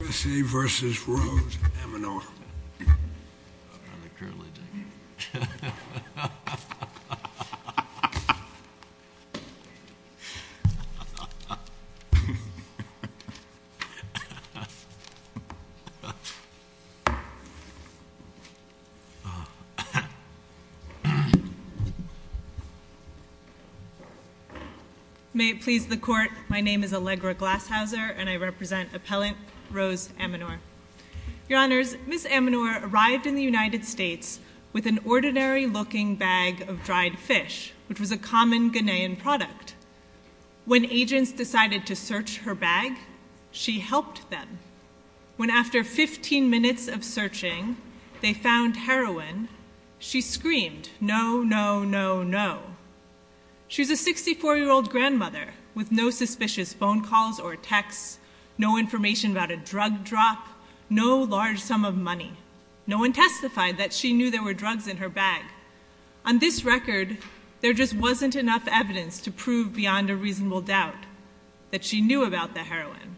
v. Rose, MNR. May it please the court, my name is Allegra Glasshauser and I represent Appellant Rose, MNR. Your honors, Ms. MNR arrived in the United States with an ordinary-looking bag of dried fish, which was a common Ghanaian product. When agents decided to search her bag, she helped them. When after 15 minutes of searching, they found heroin, she screamed, no, no, no, no. She's a 64-year-old grandmother with no suspicious phone calls or texts, no information about a drug drop, no large sum of money. No one testified that she knew there were drugs in her bag. On this record, there just wasn't enough evidence to prove beyond a reasonable doubt that she knew about the heroin.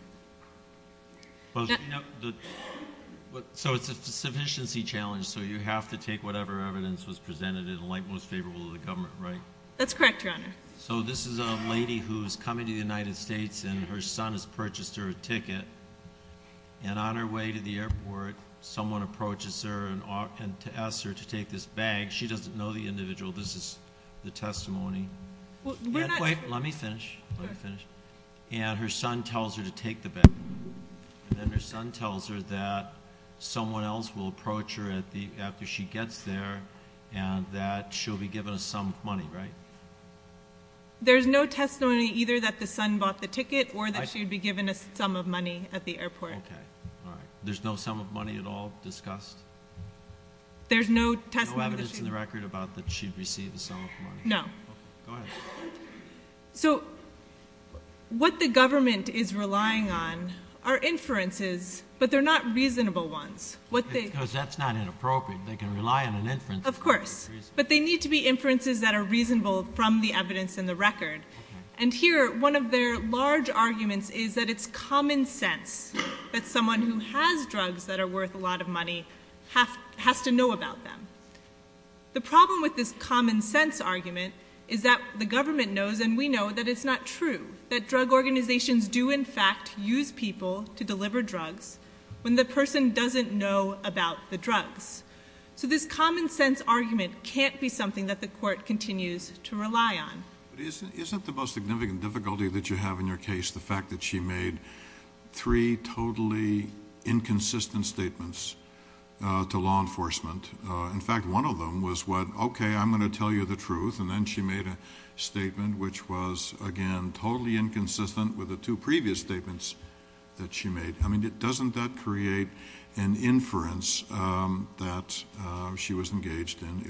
So it's a sufficiency challenge, so you have to take whatever evidence was presented in light most favorable to the government, right? That's correct, your honor. So this is a lady who's coming to the United States and her son has purchased her a ticket, and on her way to the airport, someone approaches her and asks her to take this bag. She doesn't know the individual. This is the testimony. Wait, let me finish. And her son tells her to take the bag, and then her son tells her that someone else will receive a sum of money, right? There's no testimony either that the son bought the ticket or that she'd be given a sum of money at the airport. Okay, all right. There's no sum of money at all discussed? There's no testimony. No evidence in the record about that she'd receive a sum of money? No. Okay, go ahead. So what the government is relying on are inferences, but they're not reasonable ones. Because that's not inappropriate. They can rely on an inference. Of course, but they need to be inferences that are reasonable from the evidence in the record. And here, one of their large arguments is that it's common sense that someone who has drugs that are worth a lot of money has to know about them. The problem with this common sense argument is that the government knows, and we know, that it's not true that drug organizations do, in fact, use people to deliver drugs when the person doesn't know about the drugs. So this common sense argument can't be something that the court continues to rely on. But isn't the most significant difficulty that you have in your case the fact that she made three totally inconsistent statements to law enforcement? In fact, one of them was what, okay, I'm going to tell you the truth, and then she made a statement which was, again, totally inconsistent with the two previous statements that she made. I mean, doesn't that create an inference that she was engaged in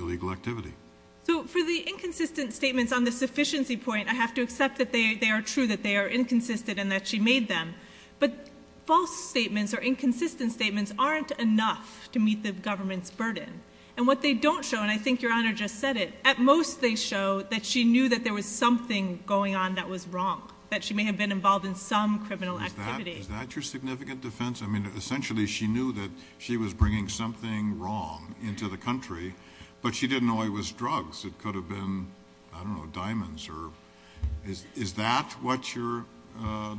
So for the inconsistent statements on the sufficiency point, I have to accept that they are true, that they are inconsistent, and that she made them. But false statements or inconsistent statements aren't enough to meet the government's burden. And what they don't show, and I think Your Honor just said it, at most they show that she knew that there was something going on that was wrong, that she may have been involved in some criminal activity. Is that your significant defense? I mean, essentially she knew that she was bringing something wrong into the country, but she didn't know it was drugs. It could have been, I don't know, diamonds. Is that what your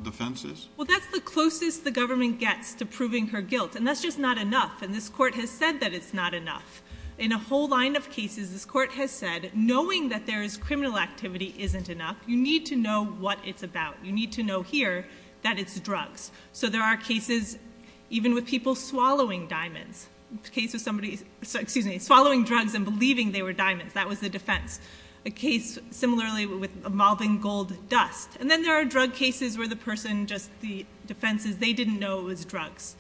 defense is? Well, that's the closest the government gets to proving her guilt, and that's just not enough. And this court has said that it's not enough. In a whole line of cases, this court has said knowing that there is criminal activity isn't enough. You need to know what it's about. You need to know here that it's drugs. So there are cases even with people swallowing diamonds. The case of somebody, excuse me, swallowing drugs and believing they were diamonds, that was the defense. A case similarly with mobbing gold dust. And then there are drug cases where the person just, the defense is they didn't know it was drugs.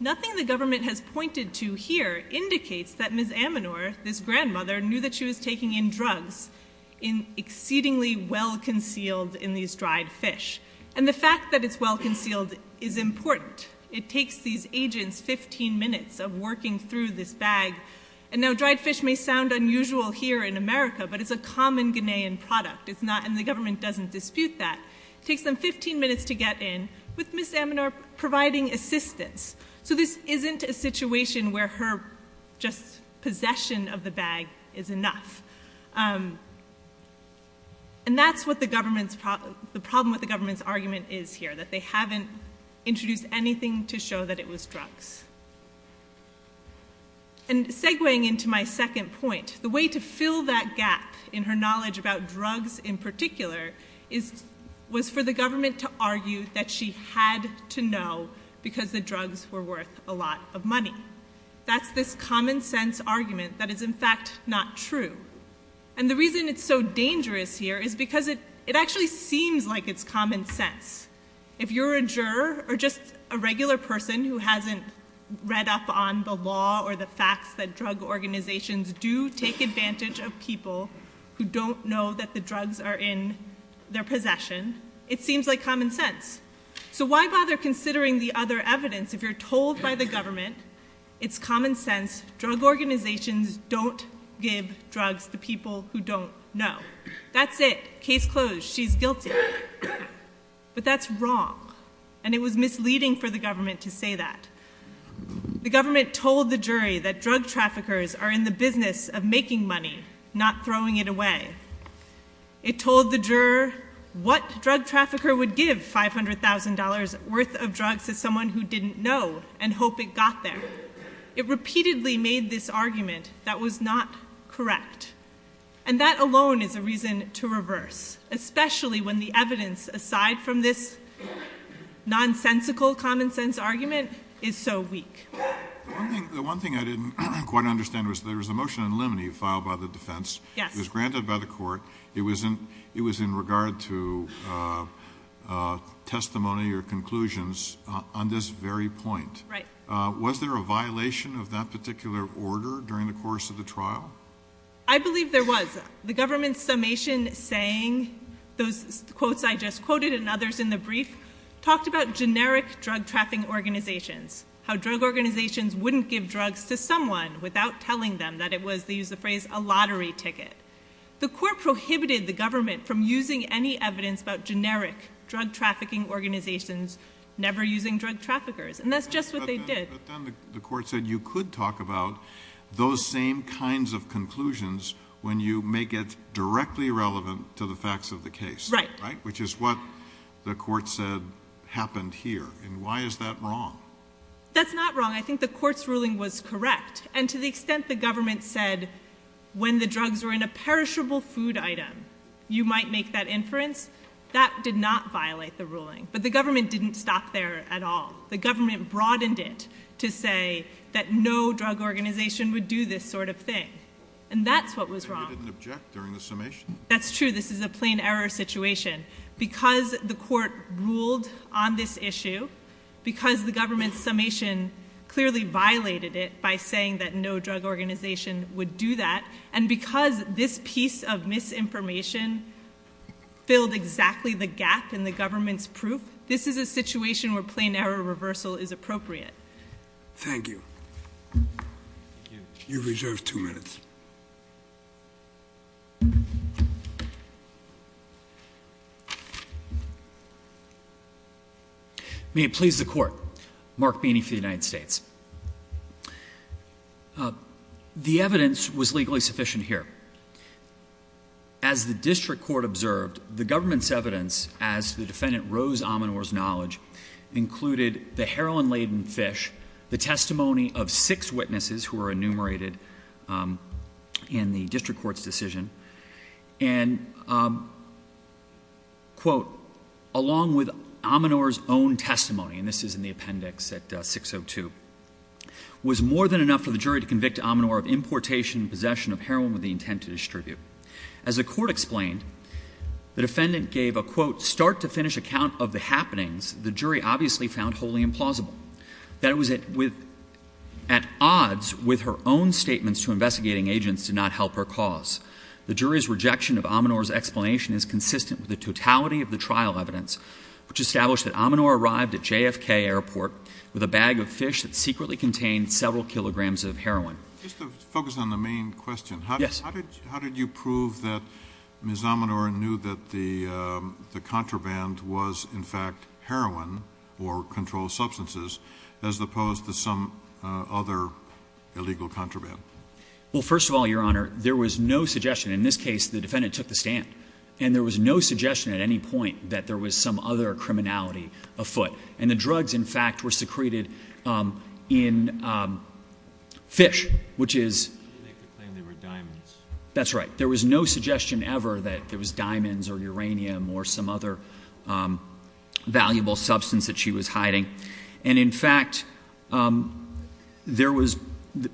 Nothing the government has pointed to here indicates that Ms. Amanor, this grandmother, knew that she was taking in drugs in exceedingly well-concealed, in these dried fish. And the fact that it's well-concealed is important. It takes these agents 15 minutes of working through this bag. And now dried fish may sound unusual here in America, but it's a common Ghanaian product. It's not, and the government doesn't dispute that. It takes them 15 minutes to get in with Ms. Amanor providing assistance. So this isn't a situation where her just possession of the bag is enough. And that's what the problem with the government's argument is here, that they haven't introduced anything to show that it was drugs. And segueing into my second point, the way to fill that gap in her knowledge about drugs in particular was for the government to argue that she had to know because the drugs were worth a lot of money. That's this common sense argument that is in fact not true. And the reason it's so dangerous here is because it actually seems like it's common sense. If you're a juror or just a regular person who hasn't read up on the law or the facts that drug organizations do take advantage of people who don't know that the drugs are in their possession, it seems like common sense. So why bother considering the other evidence if you're told by the government it's common sense drug organizations don't give drugs to people who don't know. That's it. Case closed. She's guilty. But that's wrong. And it was misleading for the government to say that the government told the jury that drug traffickers are in the business of making money, not throwing it away. It told the juror what drug trafficker would give $500,000 worth of drugs to someone who didn't know and repeatedly made this argument that was not correct. And that alone is a reason to reverse, especially when the evidence aside from this nonsensical common sense argument is so weak. The one thing I didn't quite understand was there was a motion in limine filed by the defense. It was granted by the court. It was in regard to testimony or that particular order during the course of the trial. I believe there was the government's summation saying those quotes I just quoted and others in the brief talked about generic drug trafficking organizations, how drug organizations wouldn't give drugs to someone without telling them that it was they use the phrase a lottery ticket. The court prohibited the government from using any evidence about generic drug trafficking organizations never using drug traffickers. And that's just what they did. But then the court said you could talk about those same kinds of conclusions when you make it directly relevant to the facts of the case, right? Which is what the court said happened here. And why is that wrong? That's not wrong. I think the court's ruling was correct. And to the extent the government said when the drugs were in a perishable food item you might make that inference, that did not violate the ruling. But the government didn't stop there at all. The government broadened it to say that no drug organization would do this sort of thing. And that's what was wrong. They didn't object during the summation. That's true. This is a plain error situation. Because the court ruled on this issue, because the government's summation clearly violated it by saying that no drug organization would do that, and because this piece of misinformation filled exactly the gap in the government's proof, this is a situation where plain error reversal is appropriate. Thank you. You have reserved two minutes. May it please the court. Mark Beeney for the United States. The evidence was legally sufficient here. As the district court observed, the heroin-laden fish, the testimony of six witnesses who were enumerated in the district court's decision, and, quote, along with Ominor's own testimony, and this is in the appendix at 602, was more than enough for the jury to convict Ominor of importation and possession of heroin with the intent to distribute. As the court explained, the defendant gave a, quote, start-to-finish account of the happenings the jury obviously found wholly implausible. That it was at odds with her own statements to investigating agents did not help her cause. The jury's rejection of Ominor's explanation is consistent with the totality of the trial evidence, which established that Ominor arrived at JFK Airport with a bag of fish that secretly contained several kilograms of heroin. Just to focus on the main question, how did you prove that Ms. Ominor knew that the contraband was, in fact, heroin or controlled substances, as opposed to some other illegal contraband? Well, first of all, Your Honor, there was no suggestion. In this case, the defendant took the stand. And there was no suggestion at any point that there was some other criminality afoot. And the drugs, in fact, were secreted in fish, which is You make the claim they were diamonds. That's right. There was no suggestion ever that there was diamonds or uranium or some other valuable substance that she was hiding. And, in fact, there was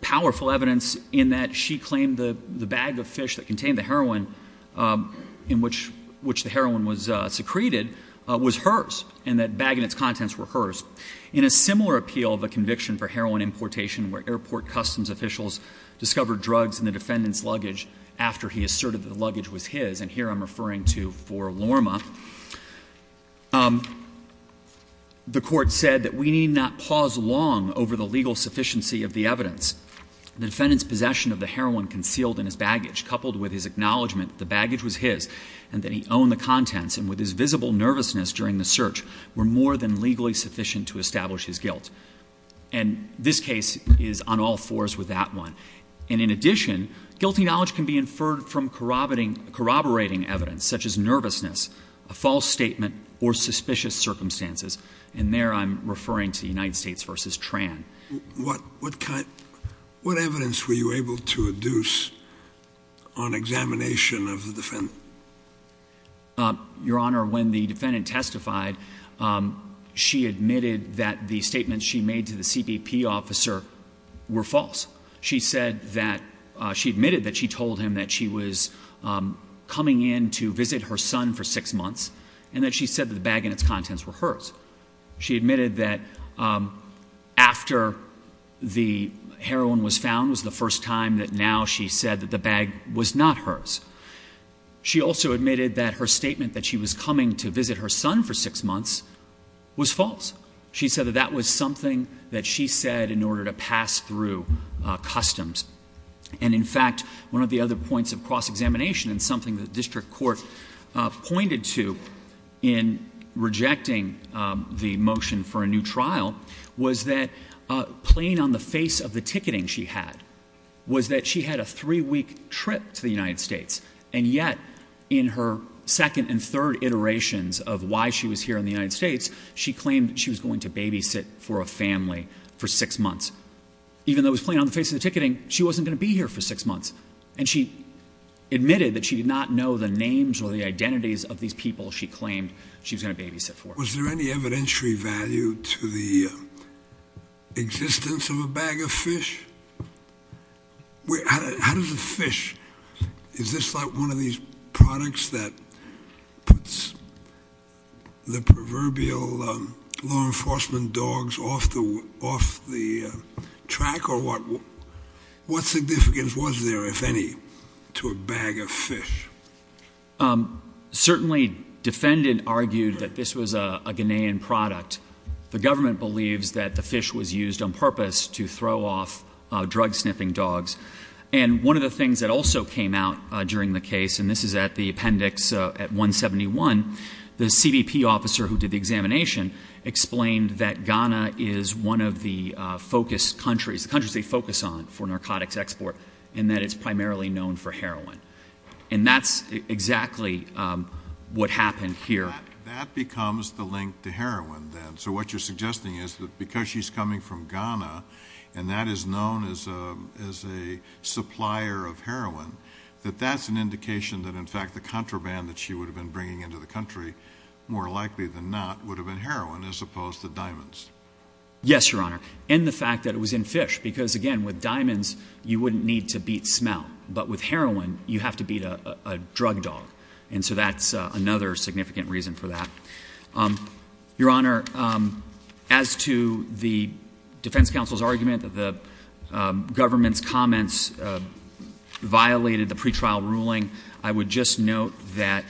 powerful evidence in that she claimed the bag of fish that contained the heroin in which the heroin was secreted was hers, and that bag and its contents were hers. In a similar appeal of a conviction for heroin importation where airport customs officials discovered drugs in the defendant's luggage after he asserted that the luggage was his, and here I'm referring to Fort Lorma, the court said that we need not pause long over the legal sufficiency of the evidence. The defendant's possession of the heroin concealed in his baggage, coupled with his acknowledgment that the baggage was his, and that he owned the contents, and with his visible nervousness during the search, were more than legally sufficient to establish his guilt. And this case is on all fours with that one. And, in addition, guilty knowledge can be inferred from corroborating evidence, such as nervousness, a false statement, or suspicious circumstances. And there I'm referring to the United States versus Tran. What evidence were you able to adduce on examination of the defendant? Your Honor, when the defendant testified, she admitted that the statements she made to the CBP officer were false. She admitted that she told him that she was coming in to visit her son for six months, and that she said that the bag and its contents were hers. She admitted that after the heroin was found was the first time that now she said that the bag was not hers. She also admitted that her statement that she was coming to visit her son for six months was false. She said that that was something that she said in order to pass through customs. And, in fact, one of the other points of cross-examination, and something the district court pointed to in rejecting the motion for a new trial, was that, plain on the face of the ticketing she had, was that she had a three-week trip to the United States. And yet, in her second and third iterations of why she was here in the United States, she claimed she was going to babysit for a family for six months. Even though it was plain on the face of the ticketing, she wasn't going to be here for six months. And she admitted that she did not know the names or the identities of these people she claimed she was going to babysit for. Was there any evidentiary value to the existence of a bag of fish? How does a fish – is this like one of these products that puts the proverbial law enforcement dogs off the track? Or what significance was there, if any, to a bag of fish? Certainly, defendants argued that this was a Ghanaian product. The government believes that the fish was used on purpose to throw off drug-sniffing dogs. And one of the things that also came out during the case, and this is at the appendix at 171, the CBP officer who did the examination explained that Ghana is one of the focus countries, the countries they focus on for narcotics export, and that it's primarily known for heroin. And that's exactly what happened here. That becomes the link to heroin, then. So what you're suggesting is that because she's coming from Ghana, and that is known as a supplier of heroin, that that's an indication that, in fact, the contraband that she would have been bringing into the country, more likely than not, would have been heroin as opposed to diamonds. Yes, Your Honor. And the fact that it was in fish. Because, again, with diamonds, you have to beat a drug dog. And so that's another significant reason for that. Your Honor, as to the defense counsel's argument that the government's comments violated the pretrial ruling, I would just note that,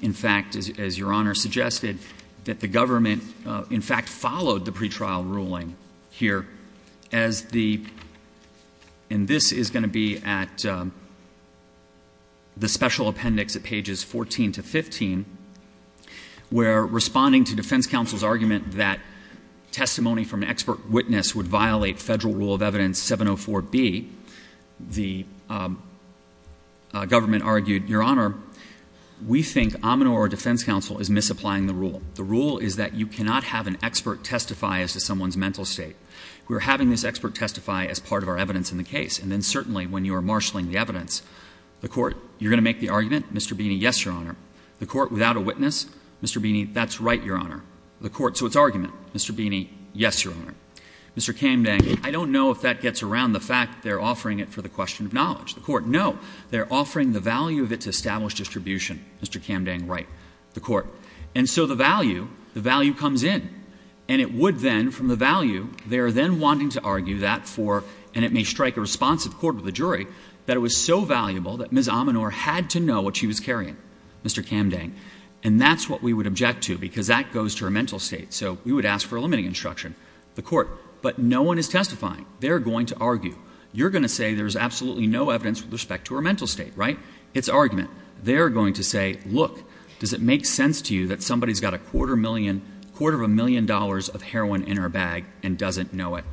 in fact, as Your Honor suggested, that the government, in fact, followed the pretrial ruling here as the — and this is going to be at the special appendix at pages 14 to 15, where, responding to defense counsel's argument that testimony from an expert witness would violate federal rule of evidence 704B, the government argued, Your Honor, we think Aminor, our defense counsel, is misapplying the rule. The rule is that you cannot have an expert testify as to someone's mental state. We're having this expert testify as part of our evidence in the case. And then, certainly, when you are marshaling the evidence, the court, you're going to make the argument, Mr. Beeney, yes, Your Honor. The court, without a witness, Mr. Beeney, that's right, Your Honor. The court, so it's argument. Mr. Beeney, yes, Your Honor. Mr. Kamdang, I don't know if that gets around the fact that they're offering it for the question of knowledge. The court, no. They're offering the value of its established distribution, Mr. Kamdang, right. The court. And so the value, the value comes in. And it would then, from the value, they are then wanting to argue that for, and it may strike a response of the court with the jury, that it was so valuable that Ms. Aminor had to know what she was carrying, Mr. Kamdang. And that's what we would object to, because that goes to her mental state. So we would ask for a limiting instruction. The court. But no one is testifying. They're going to argue. You're going to say there's absolutely no evidence with respect to her mental state, right. It's argument. They're going to say, look, does it make sense to you that somebody's got a quarter million, a million dollars of heroin in her bag and doesn't know it.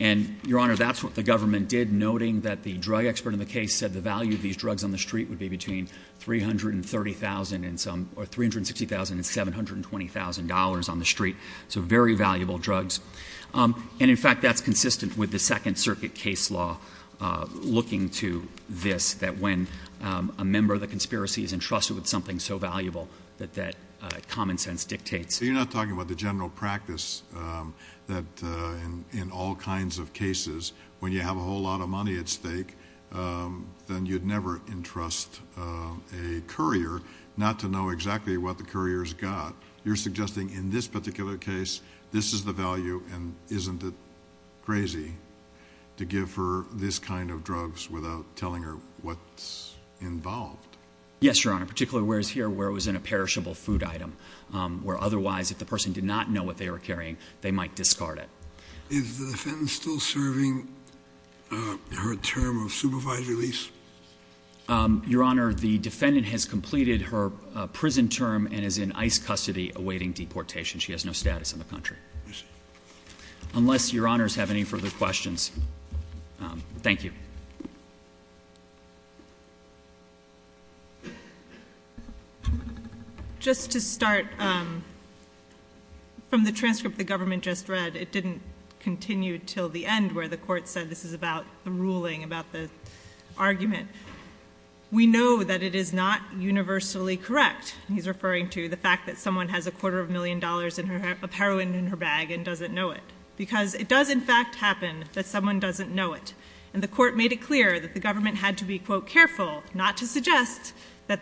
And, Your Honor, that's what the government did, noting that the drug expert in the case said the value of these drugs on the street would be between $360,000 and $720,000 on the street. So very valuable drugs. And, in fact, that's consistent with the Second Circuit case law looking to this, that when a member of the conspiracy is entrusted with something so valuable that that common sense dictates. So you're not talking about the general practice that in all kinds of cases, when you have a whole lot of money at stake, then you'd never entrust a courier not to know exactly what the courier's got. You're suggesting in this particular case, this is the value. And isn't it crazy to give her this kind of drugs without telling her what's involved? Yes, Your Honor. Particularly whereas here where it was in a perishable food item, where otherwise if the person did not know what they were carrying, they might discard it. Is the defendant still serving her term of supervised release? Your Honor, the defendant has completed her prison term and is in ICE custody awaiting deportation. She has no status in the country. I see. Unless Your Honors have any further questions. Thank you. Just to start, from the transcript the government just read, it didn't continue until the end where the court said this is about the ruling, about the argument. We know that it is not universally correct. He's referring to the fact that someone has a quarter of a million dollars of heroin in her bag and doesn't know it. Because it does in fact happen that someone doesn't know it. And the court made it clear that the government had to be, quote, careful not to suggest that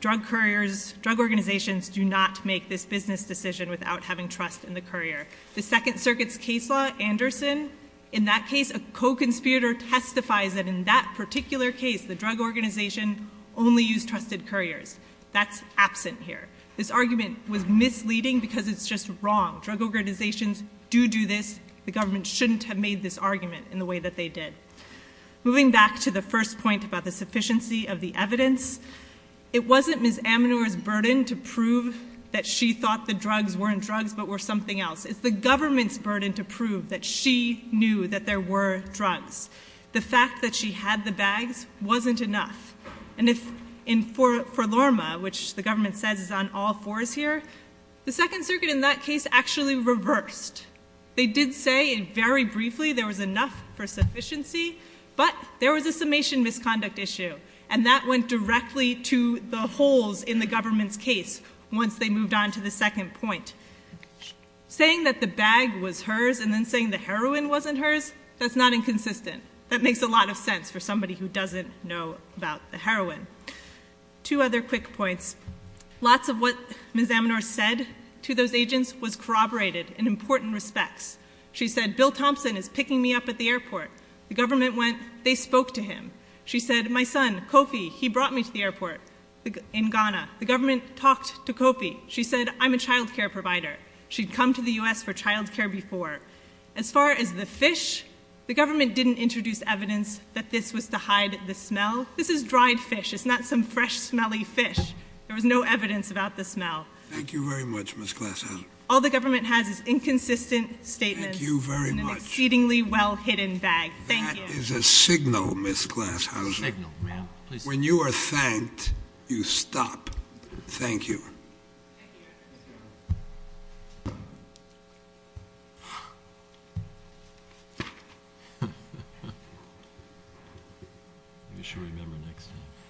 drug couriers, drug organizations do not make this business decision without having trust in the courier. The Second Circuit's case law, Anderson, in that case a co-conspirator testifies that in that particular case the drug organization only used trusted couriers. That's absent here. This argument was misleading because it's just wrong. Drug organizations do do this. The government shouldn't have made this argument in the way that they did. Moving back to the first point about the sufficiency of the evidence, it wasn't Ms. Amanor's burden to prove that she thought the drugs weren't drugs but were something else. It's the government's burden to prove that she knew that there were drugs. The fact that she had the bags wasn't enough. And if in Forlorma, which the government says is on all fours here, the Second Circuit in that case actually reversed. They did say very briefly there was enough for sufficiency, but there was a summation misconduct issue. And that went directly to the holes in the government's case once they moved on to the second point. Saying that the bag was hers and then saying the heroin wasn't hers, that's not inconsistent. That makes a lot of sense for somebody who doesn't know about the heroin. Two other quick points. Lots of what Ms. Amanor said to those agents was corroborated in important respects. She said, Bill Thompson is picking me up at the airport. The government went, they spoke to him. She said, my son, Kofi, he brought me to the airport in Ghana. The government talked to Kofi. She said, I'm a child care provider. She'd come to the U.S. for child care before. As far as the fish, the government didn't introduce evidence that this was to hide the smell. This is dried fish. It's not some fresh, smelly fish. There was no evidence about the smell. Thank you very much, Ms. Glashauser. All the government has is inconsistent statements. Thank you very much. In an exceedingly well-hidden bag. Thank you. That is a signal, Ms. Glashauser. A signal, yeah. Please. When you are thanked, you stop. Thank you. Thank you. Thank you. You should remember next time.